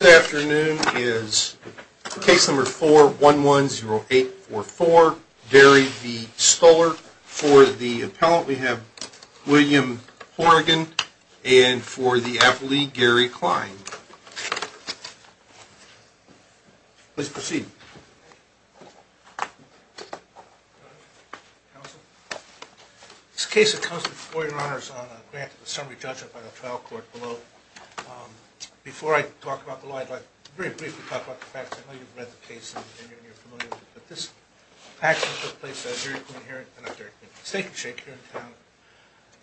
This afternoon is case number 4110844, Derry v. Stuller. For the appellant, we have William Horrigan and for the affiliate, Gary Klein. Please proceed. This case comes before your honors on a grant of a summary judgment by the trial court below. Before I talk about the law, I'd like to very briefly talk about the facts. I know you've read the case and you're familiar with it, but this action took place at a steak and shake here in town.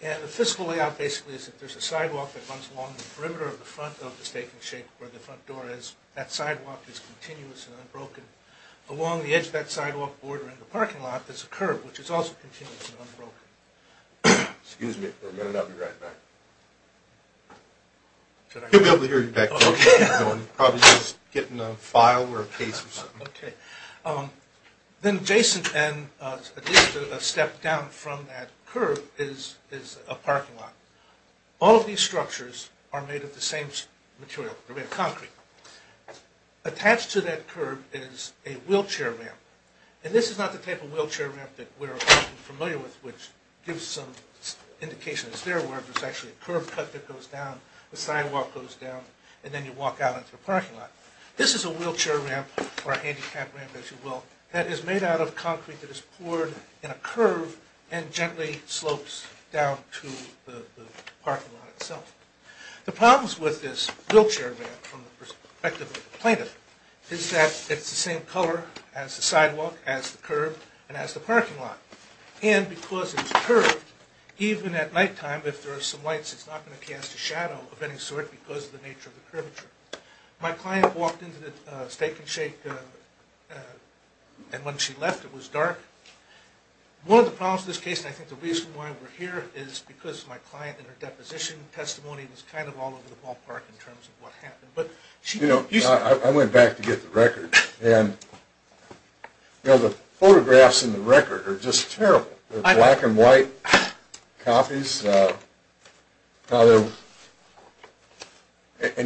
And the fiscal layout basically is that there's a sidewalk that runs along the perimeter of the front of the steak and shake where the front door is. That sidewalk is continuous and unbroken. Along the edge of that sidewalk border in the parking lot is a curb, which is also continuous and unbroken. Excuse me for a minute, I'll be right back. He'll be able to hear you back there, he's probably just getting a file or a case or something. Then adjacent and at least a step down from that curb is a parking lot. All of these structures are made of the same material, they're made of concrete. Attached to that curb is a wheelchair ramp. And this is not the type of wheelchair ramp that we're familiar with, which gives some indication. It's there where there's actually a curb cut that goes down, the sidewalk goes down, and then you walk out into a parking lot. This is a wheelchair ramp, or a handicap ramp as you will, that is made out of concrete that is poured in a curve and gently slopes down to the parking lot itself. The problems with this wheelchair ramp from the perspective of the plaintiff is that it's the same color as the sidewalk, as the curb, and as the parking lot. And because it's curved, even at nighttime if there are some lights it's not going to cast a shadow of any sort because of the nature of the curvature. My client walked into the Steak and Shake and when she left it was dark. One of the problems with this case, and I think the reason why we're here, is because my client in her deposition testimony was kind of all over the ballpark in terms of what happened. You know, I went back to get the record, and the photographs in the record are just terrible. They're black and white copies, and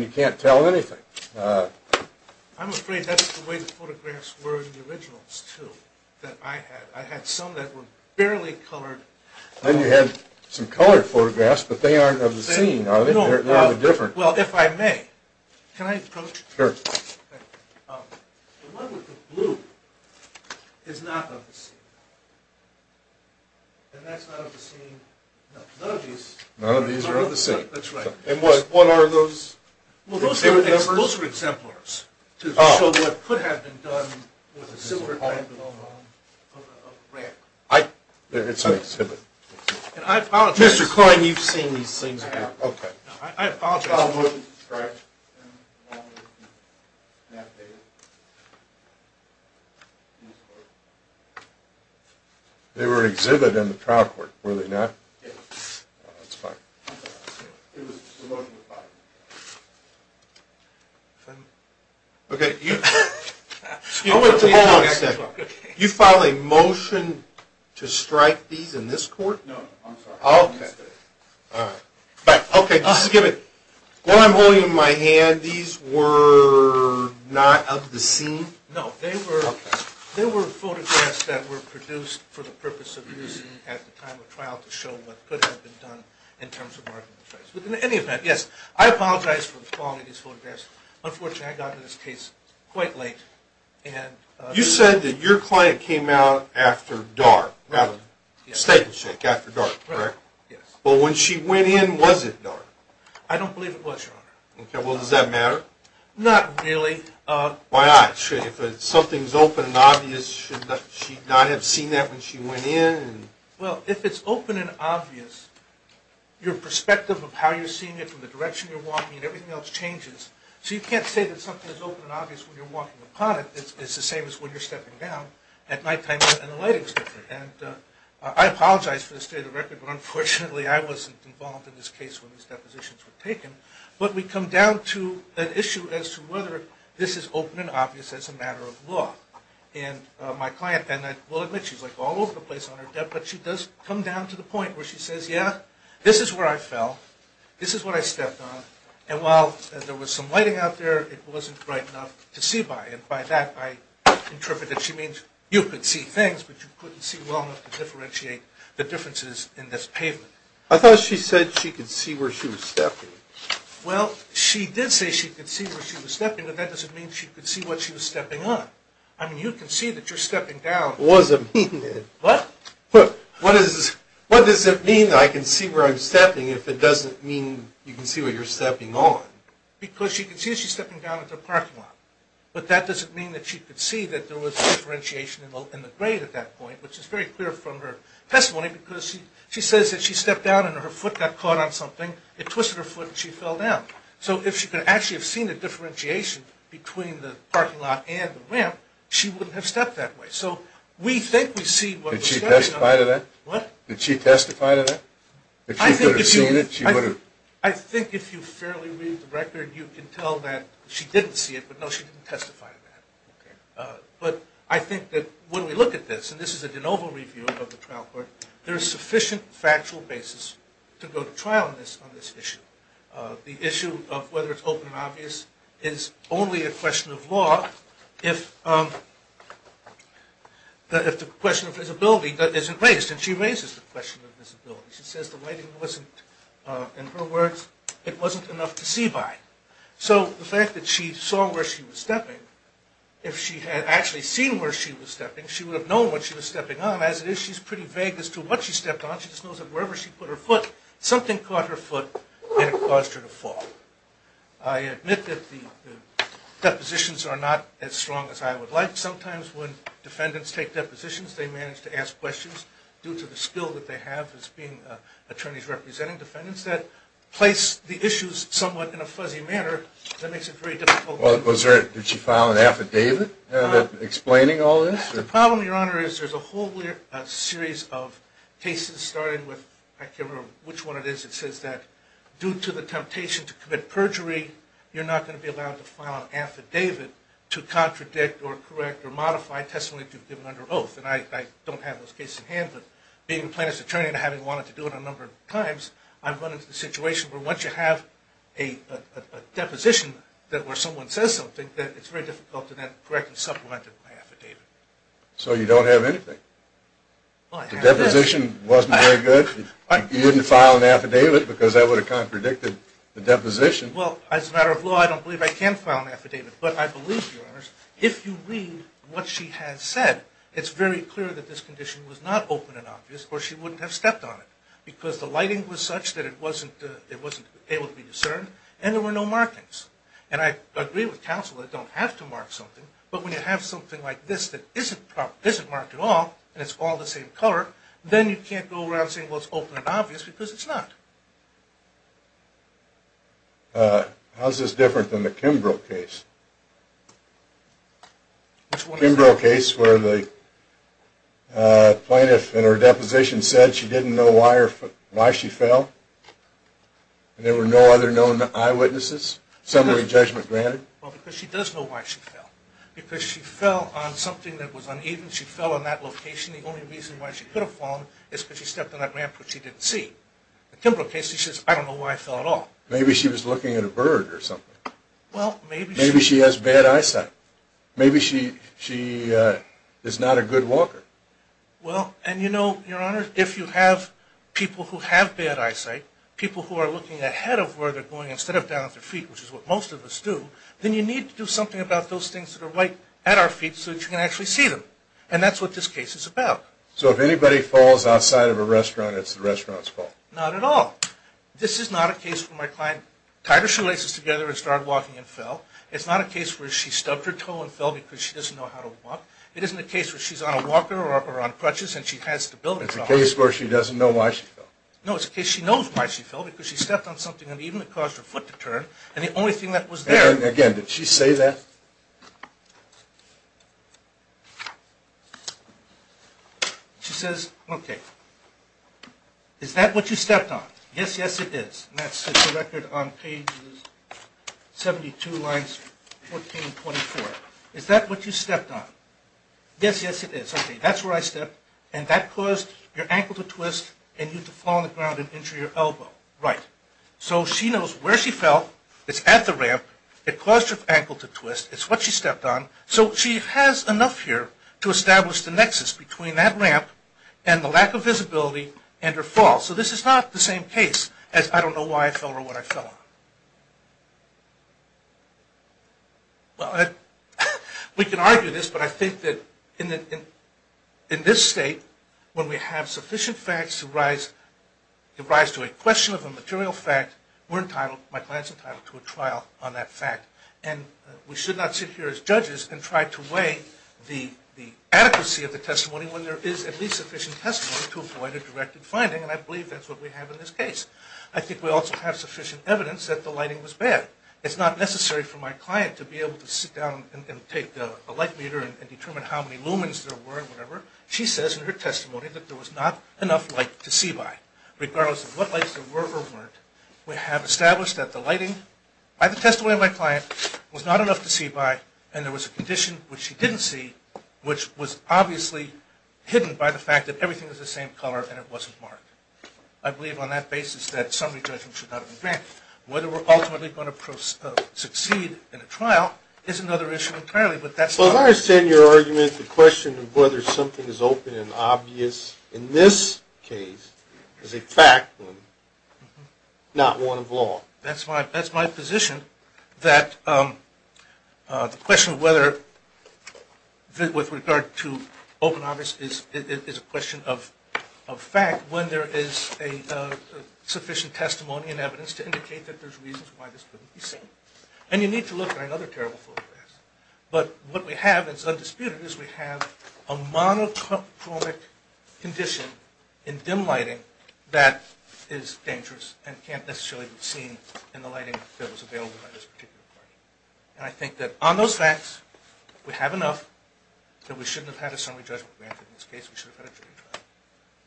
you can't tell anything. I'm afraid that's the way the photographs were in the originals, too, that I had. I had some that were barely colored. Then you had some colored photographs, but they aren't of the scene, are they? They're different. Well, if I may, can I approach? Sure. The one with the blue is not of the scene. And that's not of the scene. None of these are of the scene. That's right. And what are those? Well, those are exemplars to show what could have been done with a similar type of a rack. It's an exhibit. Mr. Klein, you've seen these things before. Okay. I apologize. They were an exhibit in the trial court, were they not? Yes. That's fine. It was a motion to fire. Okay. Excuse me. Hold on a second. You file a motion to strike these in this court? No, I'm sorry. Okay. All right. But, okay, just give it. What I'm holding in my hand, these were not of the scene? No, they were photographs that were produced for the purpose of using at the time of trial to show what could have been done in terms of marking the trace. But in any event, yes, I apologize for the quality of these photographs. Unfortunately, I got into this case quite late. You said that your client came out after dark, rather, a statement shake after dark, correct? Yes. Well, when she went in, was it dark? I don't believe it was, Your Honor. Okay. Well, does that matter? Not really. Why not? If something's open and obvious, should she not have seen that when she went in? Well, if it's open and obvious, your perspective of how you're seeing it from the direction you're walking and everything else changes. So you can't say that something's open and obvious when you're walking upon it. It's the same as when you're stepping down at nighttime and the lighting's different. And I apologize for the state of the record, but unfortunately I wasn't involved in this case when these depositions were taken. But we come down to an issue as to whether this is open and obvious as a matter of law. And my client, and I will admit she's like all over the place on her death, but she does come down to the point where she says, yeah, this is where I fell, this is what I stepped on, and while there was some lighting out there, it wasn't bright enough to see by. And by that I interpret that she means you could see things, but you couldn't see well enough to differentiate the differences in this pavement. I thought she said she could see where she was stepping. Well, she did say she could see where she was stepping, but that doesn't mean she could see what she was stepping on. I mean, you can see that you're stepping down. What does it mean? What? What does it mean that I can see where I'm stepping if it doesn't mean you can see where you're stepping on? Because she can see that she's stepping down at the parking lot. But that doesn't mean that she could see that there was differentiation in the grade at that point, which is very clear from her testimony because she says that she stepped down and her foot got caught on something. It twisted her foot and she fell down. So if she could actually have seen the differentiation between the parking lot and the ramp, she wouldn't have stepped that way. So we think we see what we're stepping on. Did she testify to that? What? Did she testify to that? If she could have seen it, she would have. I think if you fairly read the record, you can tell that she didn't see it, but no, she didn't testify to that. But I think that when we look at this, and this is a de novo review of the trial court, there is sufficient factual basis to go to trial on this issue. The issue of whether it's open and obvious is only a question of law if the question of visibility isn't raised. And she raises the question of visibility. She says the lighting wasn't, in her words, it wasn't enough to see by. So the fact that she saw where she was stepping, if she had actually seen where she was stepping, she would have known what she was stepping on. As it is, she's pretty vague as to what she stepped on. She just knows that wherever she put her foot, something caught her foot and it caused her to fall. I admit that the depositions are not as strong as I would like. Sometimes when defendants take depositions, they manage to ask questions due to the skill that they have as attorneys representing defendants that place the issues somewhat in a fuzzy manner that makes it very difficult. Did she file an affidavit explaining all this? The problem, Your Honor, is there's a whole series of cases, starting with, I can't remember which one it is, it says that due to the temptation to commit perjury, you're not going to be allowed to file an affidavit to contradict or correct or modify testimony that you've given under oath. And I don't have those cases in hand, but being a plaintiff's attorney and having wanted to do it a number of times, I've run into the situation where once you have a deposition where someone says something, it's very difficult to then correct and supplement the affidavit. So you don't have anything? The deposition wasn't very good? You wouldn't file an affidavit because that would have contradicted the deposition? Well, as a matter of law, I don't believe I can file an affidavit. But I believe, Your Honors, if you read what she has said, it's very clear that this condition was not open and obvious or she wouldn't have stepped on it because the lighting was such that it wasn't able to be discerned and there were no markings. And I agree with counsel that you don't have to mark something, but when you have something like this that isn't marked at all and it's all the same color, then you can't go around saying, well, it's open and obvious because it's not. How is this different than the Kimbrough case? Which one? The Kimbrough case where the plaintiff in her deposition said she didn't know why she fell and there were no other known eyewitnesses, summary judgment granted. Well, because she does know why she fell. Because she fell on something that was uneven. She fell on that location. The only reason why she could have fallen is because she stepped on that ramp which she didn't see. The Kimbrough case, she says, I don't know why I fell at all. Maybe she was looking at a bird or something. Maybe she has bad eyesight. Maybe she is not a good walker. Well, and you know, Your Honors, if you have people who have bad eyesight, people who are looking ahead of where they're going instead of down at their feet, which is what most of us do, then you need to do something about those things that are right at our feet so that you can actually see them. And that's what this case is about. So if anybody falls outside of a restaurant, it's the restaurant's fault. Not at all. This is not a case where my client tied her shoelaces together and started walking and fell. It's not a case where she stubbed her toe and fell because she doesn't know how to walk. It isn't a case where she's on a walker or on crutches and she has stability problems. It's a case where she doesn't know why she fell. No, it's a case where she knows why she fell because she stepped on something uneven that caused her foot to turn, and the only thing that was there. Again, did she say that? She says, okay, is that what you stepped on? Yes, yes, it is. And that's the record on pages 72, lines 14 and 24. Is that what you stepped on? Yes, yes, it is. And that caused your ankle to twist and you had to fall on the ground and injure your elbow. Right. So she knows where she fell. It's at the ramp. It caused her ankle to twist. It's what she stepped on. So she has enough here to establish the nexus between that ramp and the lack of visibility and her fall. So this is not the same case as I don't know why I fell or what I fell on. Well, we can argue this, but I think that in this state, when we have sufficient facts to rise to a question of a material fact, we're entitled, my client's entitled to a trial on that fact. And we should not sit here as judges and try to weigh the adequacy of the testimony when there is at least sufficient testimony to avoid a directed finding, and I believe that's what we have in this case. I think we also have sufficient evidence that the lighting was bad. It's not necessary for my client to be able to sit down and take a light meter and determine how many lumens there were or whatever. She says in her testimony that there was not enough light to see by, regardless of what lights there were or weren't. We have established that the lighting, by the testimony of my client, was not enough to see by, and there was a condition which she didn't see, which was obviously hidden by the fact that everything was the same color and it wasn't marked. I believe on that basis that summary judgment should not be granted. Whether we're ultimately going to succeed in a trial is another issue entirely. So as I understand your argument, the question of whether something is open and obvious in this case is a fact, not one of law. That's my position, that the question of whether with regard to open and obvious is a question of fact. When there is sufficient testimony and evidence to indicate that there's reasons why this couldn't be seen. And you need to look at another terrible photograph. But what we have that's undisputed is we have a monochromic condition in dim lighting that is dangerous and can't necessarily be seen in the lighting that was available by this particular client. And I think that on those facts, we have enough that we shouldn't have had a summary judgment granted in this case. We should have had a jury trial.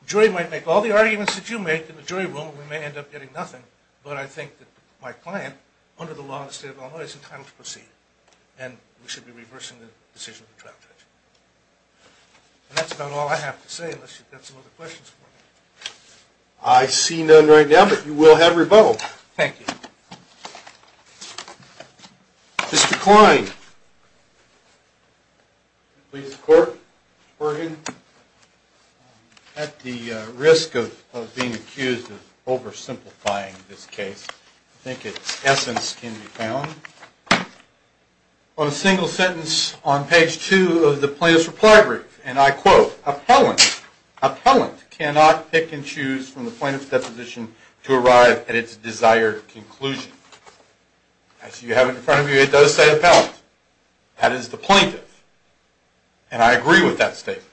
The jury might make all the arguments that you make in the jury room. We may end up getting nothing. But I think that my client, under the law of the state of Illinois, is entitled to proceed. And we should be reversing the decision of the trial judgment. And that's about all I have to say unless you've got some other questions for me. I see none right now, but you will have rebuttal. Thank you. Mr. Klein. At the risk of being accused of oversimplifying this case, I think its essence can be found on a single sentence on page 2 of the plaintiff's reply brief. And I quote, Appellant cannot pick and choose from the plaintiff's deposition to arrive at its desired conclusion. As you have in front of you, it does say appellant. That is the plaintiff. And I agree with that statement.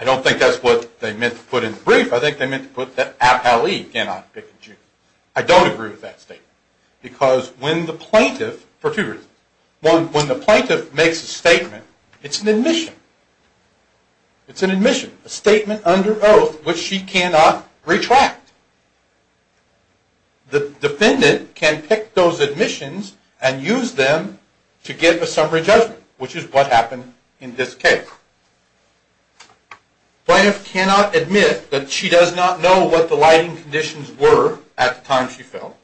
I don't think that's what they meant to put in the brief. I think they meant to put that appellee cannot pick and choose. I don't agree with that statement because when the plaintiff, for two reasons. One, when the plaintiff makes a statement, it's an admission. It's an admission, a statement under oath which she cannot retract. The defendant can pick those admissions and use them to give a summary judgment, which is what happened in this case. Plaintiff cannot admit that she does not know what the lighting conditions were at the time she fell.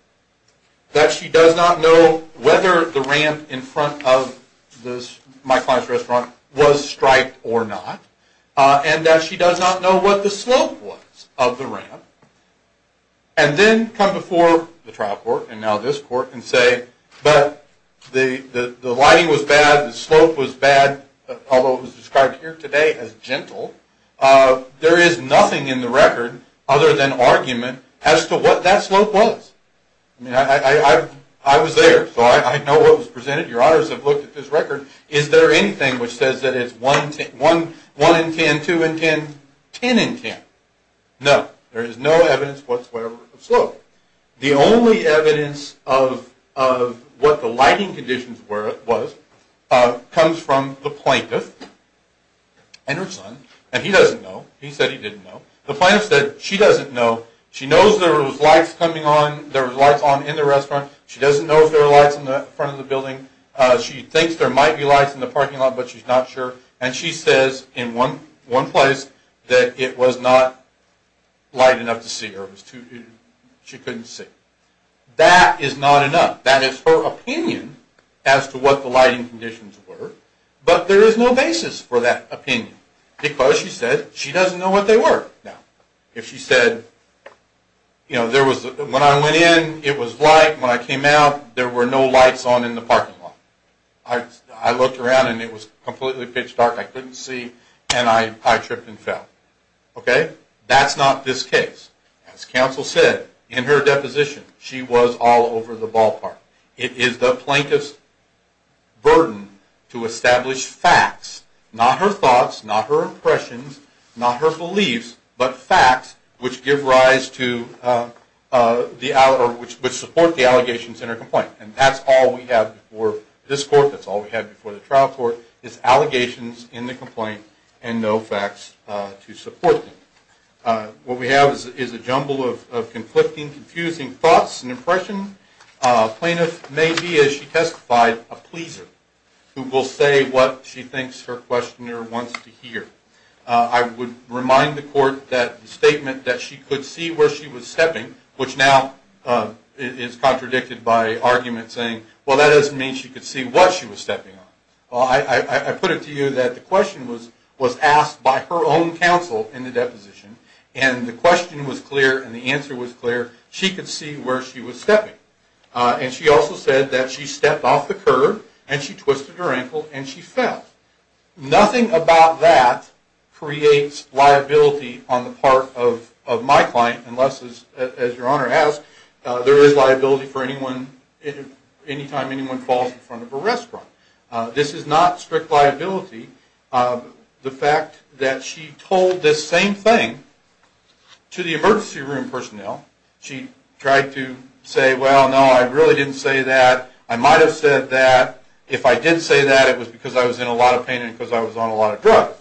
That she does not know whether the ramp in front of Mike Klein's restaurant was striped or not. And that she does not know what the slope was of the ramp. And then come before the trial court and now this court and say, but the lighting was bad, the slope was bad, although it was described here today as gentle. There is nothing in the record other than argument as to what that slope was. I was there, so I know what was presented. Your honors have looked at this record. Is there anything which says that it's 1 in 10, 2 in 10, 10 in 10? No. There is no evidence whatsoever of slope. The only evidence of what the lighting conditions was comes from the plaintiff and her son. And he doesn't know. He said he didn't know. The plaintiff said she doesn't know. She knows there was lights coming on, there was lights on in the restaurant. She doesn't know if there were lights in the front of the building. She thinks there might be lights in the parking lot, but she's not sure. And she says in one place that it was not light enough to see or she couldn't see. That is not enough. That is her opinion as to what the lighting conditions were. But there is no basis for that opinion because she said she doesn't know what they were. If she said, you know, when I went in, it was light. When I came out, there were no lights on in the parking lot. I looked around and it was completely pitch dark. I couldn't see, and I tripped and fell. Okay? That's not this case. As counsel said in her deposition, she was all over the ballpark. It is the plaintiff's burden to establish facts, not her thoughts, not her impressions, not her beliefs, but facts which give rise to the – or which support the allegations in her complaint. And that's all we have before this court. That's all we have before the trial court is allegations in the complaint and no facts to support them. What we have is a jumble of conflicting, confusing thoughts and impressions. Plaintiff may be, as she testified, a pleaser who will say what she thinks her questioner wants to hear. I would remind the court that the statement that she could see where she was stepping, which now is contradicted by arguments saying, well, that doesn't mean she could see what she was stepping on. Well, I put it to you that the question was asked by her own counsel in the deposition, and the question was clear and the answer was clear. She could see where she was stepping. And she also said that she stepped off the curb and she twisted her ankle and she fell. Nothing about that creates liability on the part of my client unless, as your Honor asked, there is liability for any time anyone falls in front of a restaurant. This is not strict liability. The fact that she told this same thing to the emergency room personnel, she tried to say, well, no, I really didn't say that. I might have said that. If I did say that, it was because I was in a lot of pain and because I was on a lot of drugs.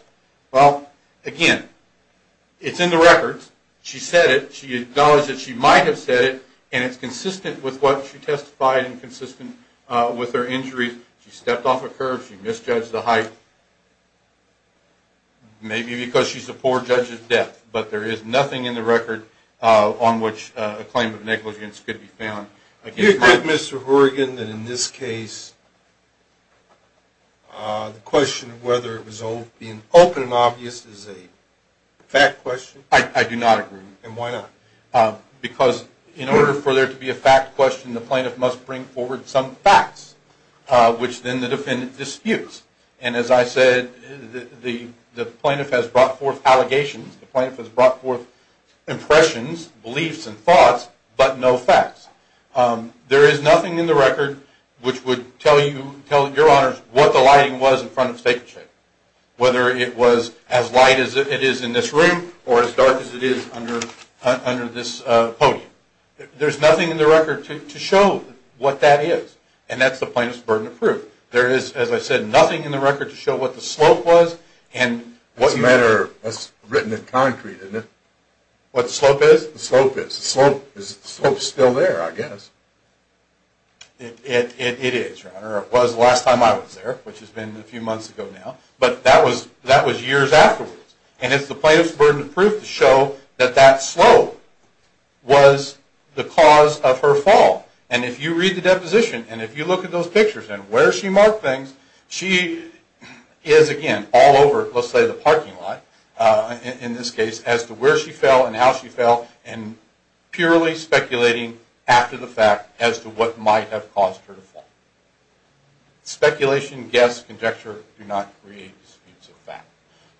Well, again, it's in the records. She said it. She acknowledged that she might have said it, and it's consistent with what she testified and consistent with her injuries. She stepped off a curb. She misjudged the height, maybe because she's a poor judge at death. But there is nothing in the record on which a claim of negligence could be found. Do you agree, Mr. Horrigan, that in this case the question of whether it was being open and obvious is a fact question? I do not agree. And why not? Because in order for there to be a fact question, the plaintiff must bring forward some facts, which then the defendant disputes. And as I said, the plaintiff has brought forth allegations. The plaintiff has brought forth impressions, beliefs, and thoughts, but no facts. There is nothing in the record which would tell you, tell your honors, what the lighting was in front of Steak and Shake, whether it was as light as it is in this room or as dark as it is under this podium. There's nothing in the record to show what that is, and that's the plaintiff's burden of proof. There is, as I said, nothing in the record to show what the slope was. That's written in concrete, isn't it? What the slope is? The slope is. The slope is still there, I guess. It is, Your Honor. It was the last time I was there, which has been a few months ago now, but that was years afterwards. And it's the plaintiff's burden of proof to show that that slope was the cause of her fall. And if you read the deposition and if you look at those pictures and where she marked things, she is, again, all over, let's say, the parking lot, in this case, as to where she fell and how she fell, and purely speculating after the fact as to what might have caused her to fall. Speculation, guess, conjecture do not create disputes of fact.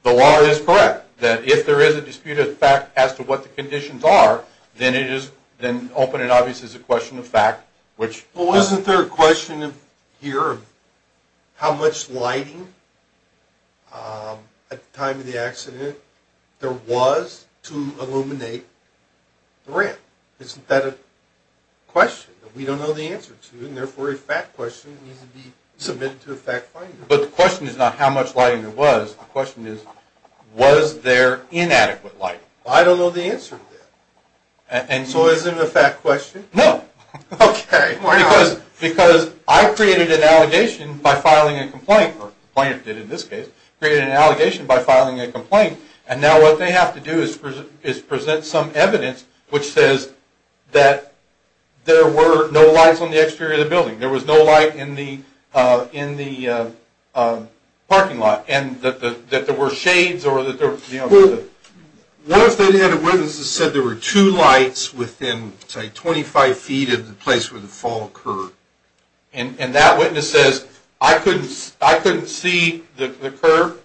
The law is correct that if there is a dispute of fact as to what the conditions are, then open and obvious is a question of fact. Well, wasn't there a question here of how much lighting, at the time of the accident, there was to illuminate the ramp? Isn't that a question that we don't know the answer to, and therefore a fact question needs to be submitted to a fact finder? But the question is not how much lighting there was. The question is, was there inadequate lighting? I don't know the answer to that. So is it a fact question? No. Okay. Because I created an allegation by filing a complaint, or the plaintiff did in this case, created an allegation by filing a complaint, and now what they have to do is present some evidence which says that there were no lights on the exterior of the building. There was no light in the parking lot, and that there were shades or that there were, you know. What if they had a witness that said there were two lights within, say, 25 feet of the place where the fall occurred? And that witness says, I couldn't see the curve,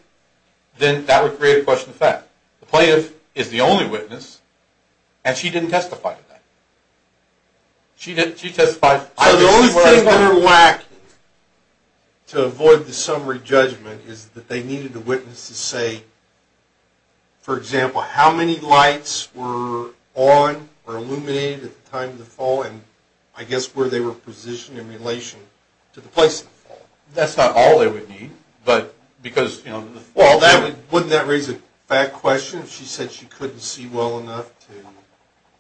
then that would create a question of fact. The plaintiff is the only witness, and she didn't testify to that. She testified. So the only thing that we're lacking to avoid the summary judgment is that they needed a witness to say, for example, how many lights were on or illuminated at the time of the fall, and I guess where they were positioned in relation to the place of the fall. That's not all they would need, but because, you know. Well, wouldn't that raise a fact question if she said she couldn't see well enough to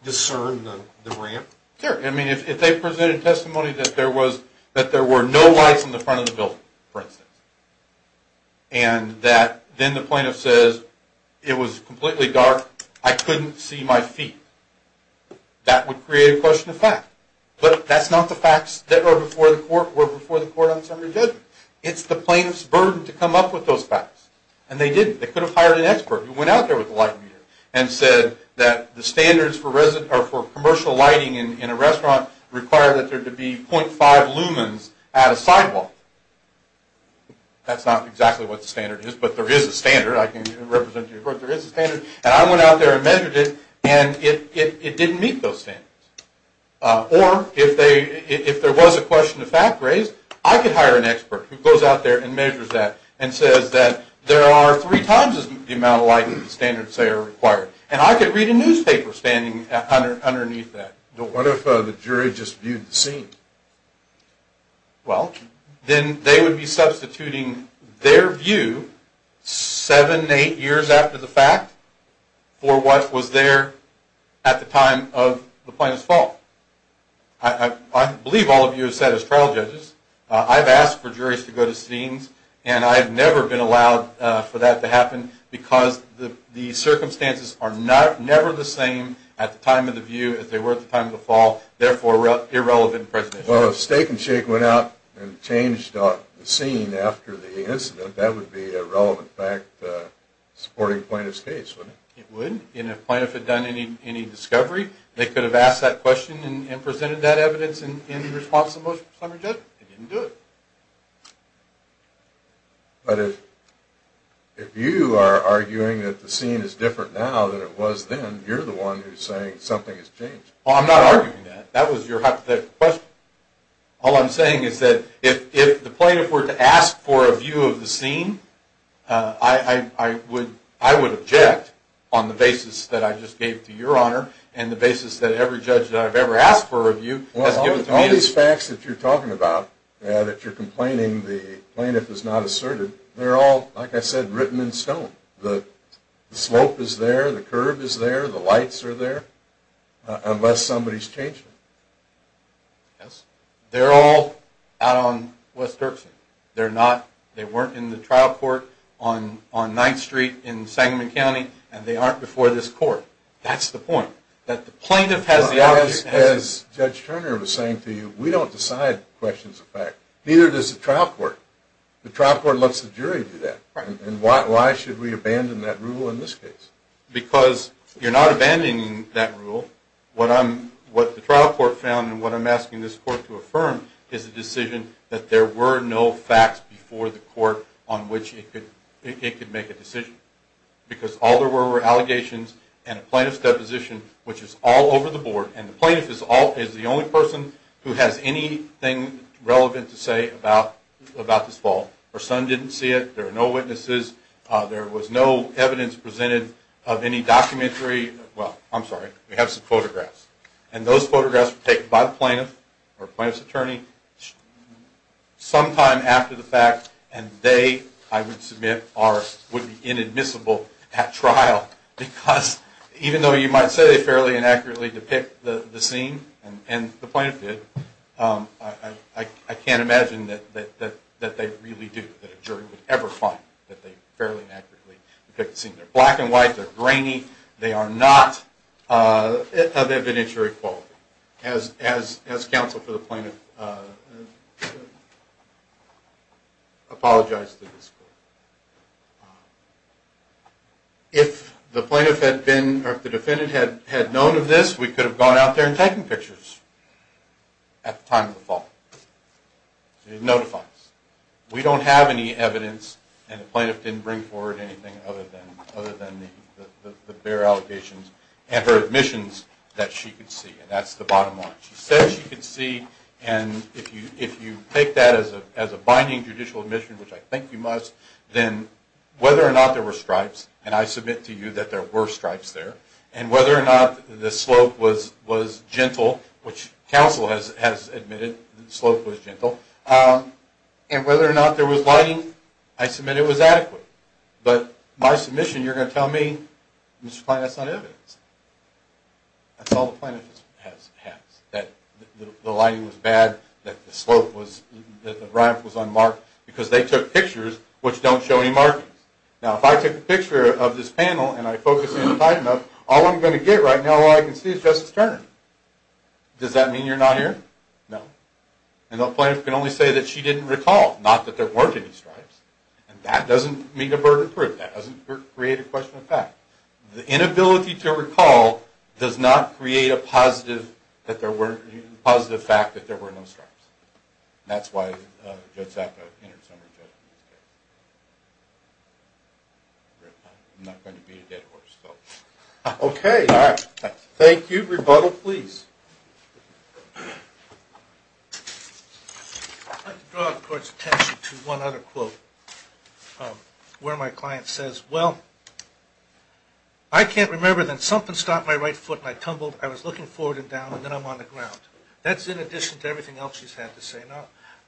discern the ramp? Sure. I mean, if they presented testimony that there were no lights in the front of the building, for instance, and that then the plaintiff says it was completely dark, I couldn't see my feet, that would create a question of fact. But that's not the facts that were before the court on summary judgment. It's the plaintiff's burden to come up with those facts, and they didn't. They could have hired an expert who went out there with a light meter and said that the standards for commercial lighting in a restaurant require that there to be .5 lumens at a sidewalk. That's not exactly what the standard is, but there is a standard. I can represent to your court there is a standard. And I went out there and measured it, and it didn't meet those standards. Or if there was a question of fact raised, I could hire an expert who goes out there and measures that and says that there are three times the amount of light that the standards say are required. And I could read a newspaper standing underneath that. What if the jury just viewed the scene? Well, then they would be substituting their view seven, eight years after the fact for what was there at the time of the plaintiff's fault. I believe all of you have said as trial judges, I've asked for juries to go to scenes, and I've never been allowed for that to happen because the circumstances are never the same at the time of the view as they were at the time of the fall, therefore irrelevant in presentation. Well, if Steak and Shake went out and changed the scene after the incident, that would be a relevant fact supporting the plaintiff's case, wouldn't it? It would. And if the plaintiff had done any discovery, they could have asked that question and presented that evidence in response to the motion for summary judgment. They didn't do it. But if you are arguing that the scene is different now than it was then, you're the one who's saying something has changed. Well, I'm not arguing that. That was your hypothetical question. All I'm saying is that if the plaintiff were to ask for a view of the scene, I would object on the basis that I just gave to Your Honor and the basis that every judge that I've ever asked for a review has given to me. Well, all these facts that you're talking about, that you're complaining the plaintiff has not asserted, they're all, like I said, written in stone. The slope is there. The curve is there. The lights are there, unless somebody's changed it. Yes. They're all out on West Turkson. They weren't in the trial court on 9th Street in Sangamon County, and they aren't before this court. That's the point, that the plaintiff has the object. As Judge Turner was saying to you, we don't decide questions of fact. Neither does the trial court. The trial court lets the jury do that. And why should we abandon that rule in this case? Because you're not abandoning that rule. What the trial court found and what I'm asking this court to affirm is a decision that there were no facts before the court on which it could make a decision. Because all there were were allegations and a plaintiff's deposition, which is all over the board, and the plaintiff is the only person who has anything relevant to say about this fault. Her son didn't see it. There are no witnesses. There was no evidence presented of any documentary. Well, I'm sorry. We have some photographs. And those photographs were taken by the plaintiff or plaintiff's attorney sometime after the fact, and they, I would submit, would be inadmissible at trial because even though you might say they fairly inaccurately depict the scene, and the plaintiff did, I can't imagine that they really do, that a jury would ever find that they fairly inaccurately depict the scene. They're black and white. They're grainy. They are not of evidentiary quality. As counsel for the plaintiff apologized to this court. If the plaintiff had been or if the defendant had known of this, we could have gone out there and taken pictures at the time of the fault. It notifies. We don't have any evidence, and the plaintiff didn't bring forward anything other than the bare allegations and her admissions that she could see, and that's the bottom line. She said she could see, and if you take that as a binding judicial admission, which I think you must, then whether or not there were stripes, and I submit to you that there were stripes there, and whether or not the slope was gentle, which counsel has admitted the slope was gentle, and whether or not there was lighting, I submit it was adequate. But my submission, you're going to tell me, Mr. Plaintiff, that's not evidence. That's all the plaintiff has, that the lighting was bad, that the slope was, that the ramp was unmarked, because they took pictures which don't show any markings. Now if I took a picture of this panel and I focus in on the plaintiff, all I'm going to get right now, all I can see is Justice Turner. Does that mean you're not here? No. And the plaintiff can only say that she didn't recall, not that there weren't any stripes, and that doesn't mean a burden of proof. That doesn't create a question of fact. The inability to recall does not create a positive that there were, a positive fact that there were no stripes. That's why Judge Sacco interceded on her judgment. I'm not going to be a dead horse, though. Okay, all right. Thank you. Rebuttal, please. I'd like to draw the court's attention to one other quote where my client says, well, I can't remember that something stopped my right foot and I tumbled, I was looking forward and down, and then I'm on the ground. That's in addition to everything else she's had to say.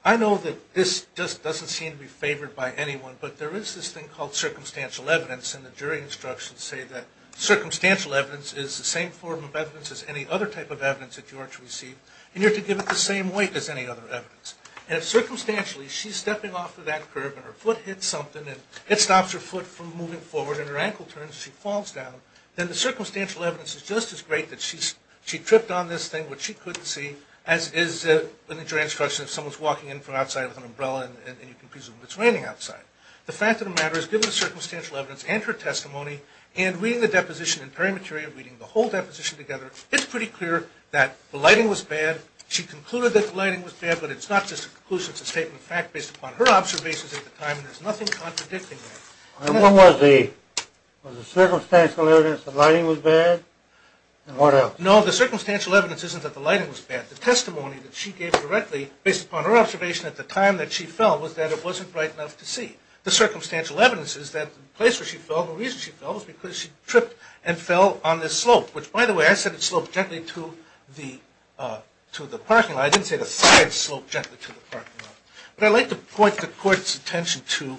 I know that this just doesn't seem to be favored by anyone, but there is this thing called circumstantial evidence, and the jury instructions say that circumstantial evidence is the same form of evidence as any other type of evidence that you are to receive, and you're to give it the same weight as any other evidence. And if circumstantially she's stepping off of that curb and her foot hits something and it stops her foot from moving forward and her ankle turns and she falls down, then the circumstantial evidence is just as great that she tripped on this thing, which she couldn't see, as is in the jury instructions, if someone's walking in from outside with an umbrella and you can presume it's raining outside. The fact of the matter is, given the circumstantial evidence and her testimony and reading the deposition in perimeteria, reading the whole deposition together, it's pretty clear that the lighting was bad. She concluded that the lighting was bad, but it's not just a conclusion. It's a statement of fact based upon her observations at the time, and there's nothing contradicting that. And what was the circumstantial evidence, the lighting was bad, and what else? No, the circumstantial evidence isn't that the lighting was bad. The testimony that she gave directly, based upon her observation at the time that she fell, was that it wasn't bright enough to see. The circumstantial evidence is that the place where she fell, the reason she fell, was because she tripped and fell on this slope, which, by the way, I said it sloped gently to the parking lot. I didn't say the side sloped gently to the parking lot. But I'd like to point the Court's attention to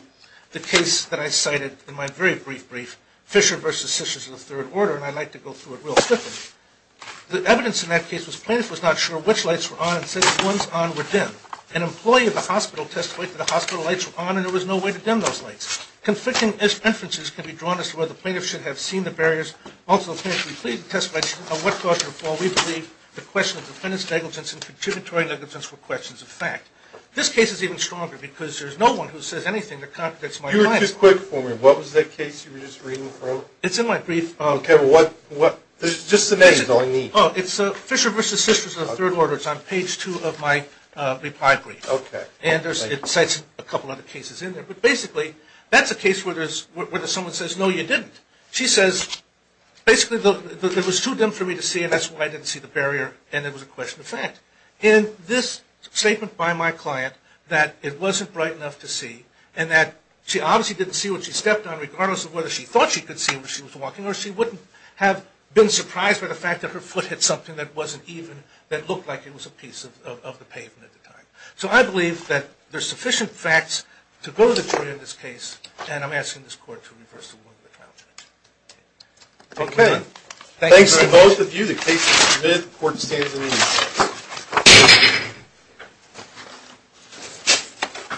the case that I cited in my very brief brief, Fisher v. Sessions of the Third Order, and I'd like to go through it real quickly. The evidence in that case was plaintiff was not sure which lights were on and said that the ones on were dim. An employee of the hospital testified that the hospital lights were on and there was no way to dim those lights. Conflicting inferences can be drawn as to whether the plaintiff should have seen the barriers. Also, the plaintiff completed the testimony on what caused her fall. We believe the question of defendant's negligence and contributory negligence were questions of fact. This case is even stronger because there's no one who says anything that contradicts my findings. You were too quick for me. What was that case you were just reading from? It's in my brief. Okay. Just the name is all I need. It's Fisher v. Sessions of the Third Order. It's on page 2 of my reply brief. Okay. And it cites a couple other cases in there. But basically, that's a case where someone says, no, you didn't. She says, basically, it was too dim for me to see and that's why I didn't see the barrier and it was a question of fact. In this statement by my client that it wasn't bright enough to see and that she obviously didn't see what she stepped on regardless of whether she thought she could see when she was walking or she wouldn't have been surprised by the fact that her foot hit something So I believe that there's sufficient facts to go to the jury in this case and I'm asking this court to reverse the ruling of the trial judge. Thank you very much. Thanks to both of you. The case is submitted. The court is standing in the meeting.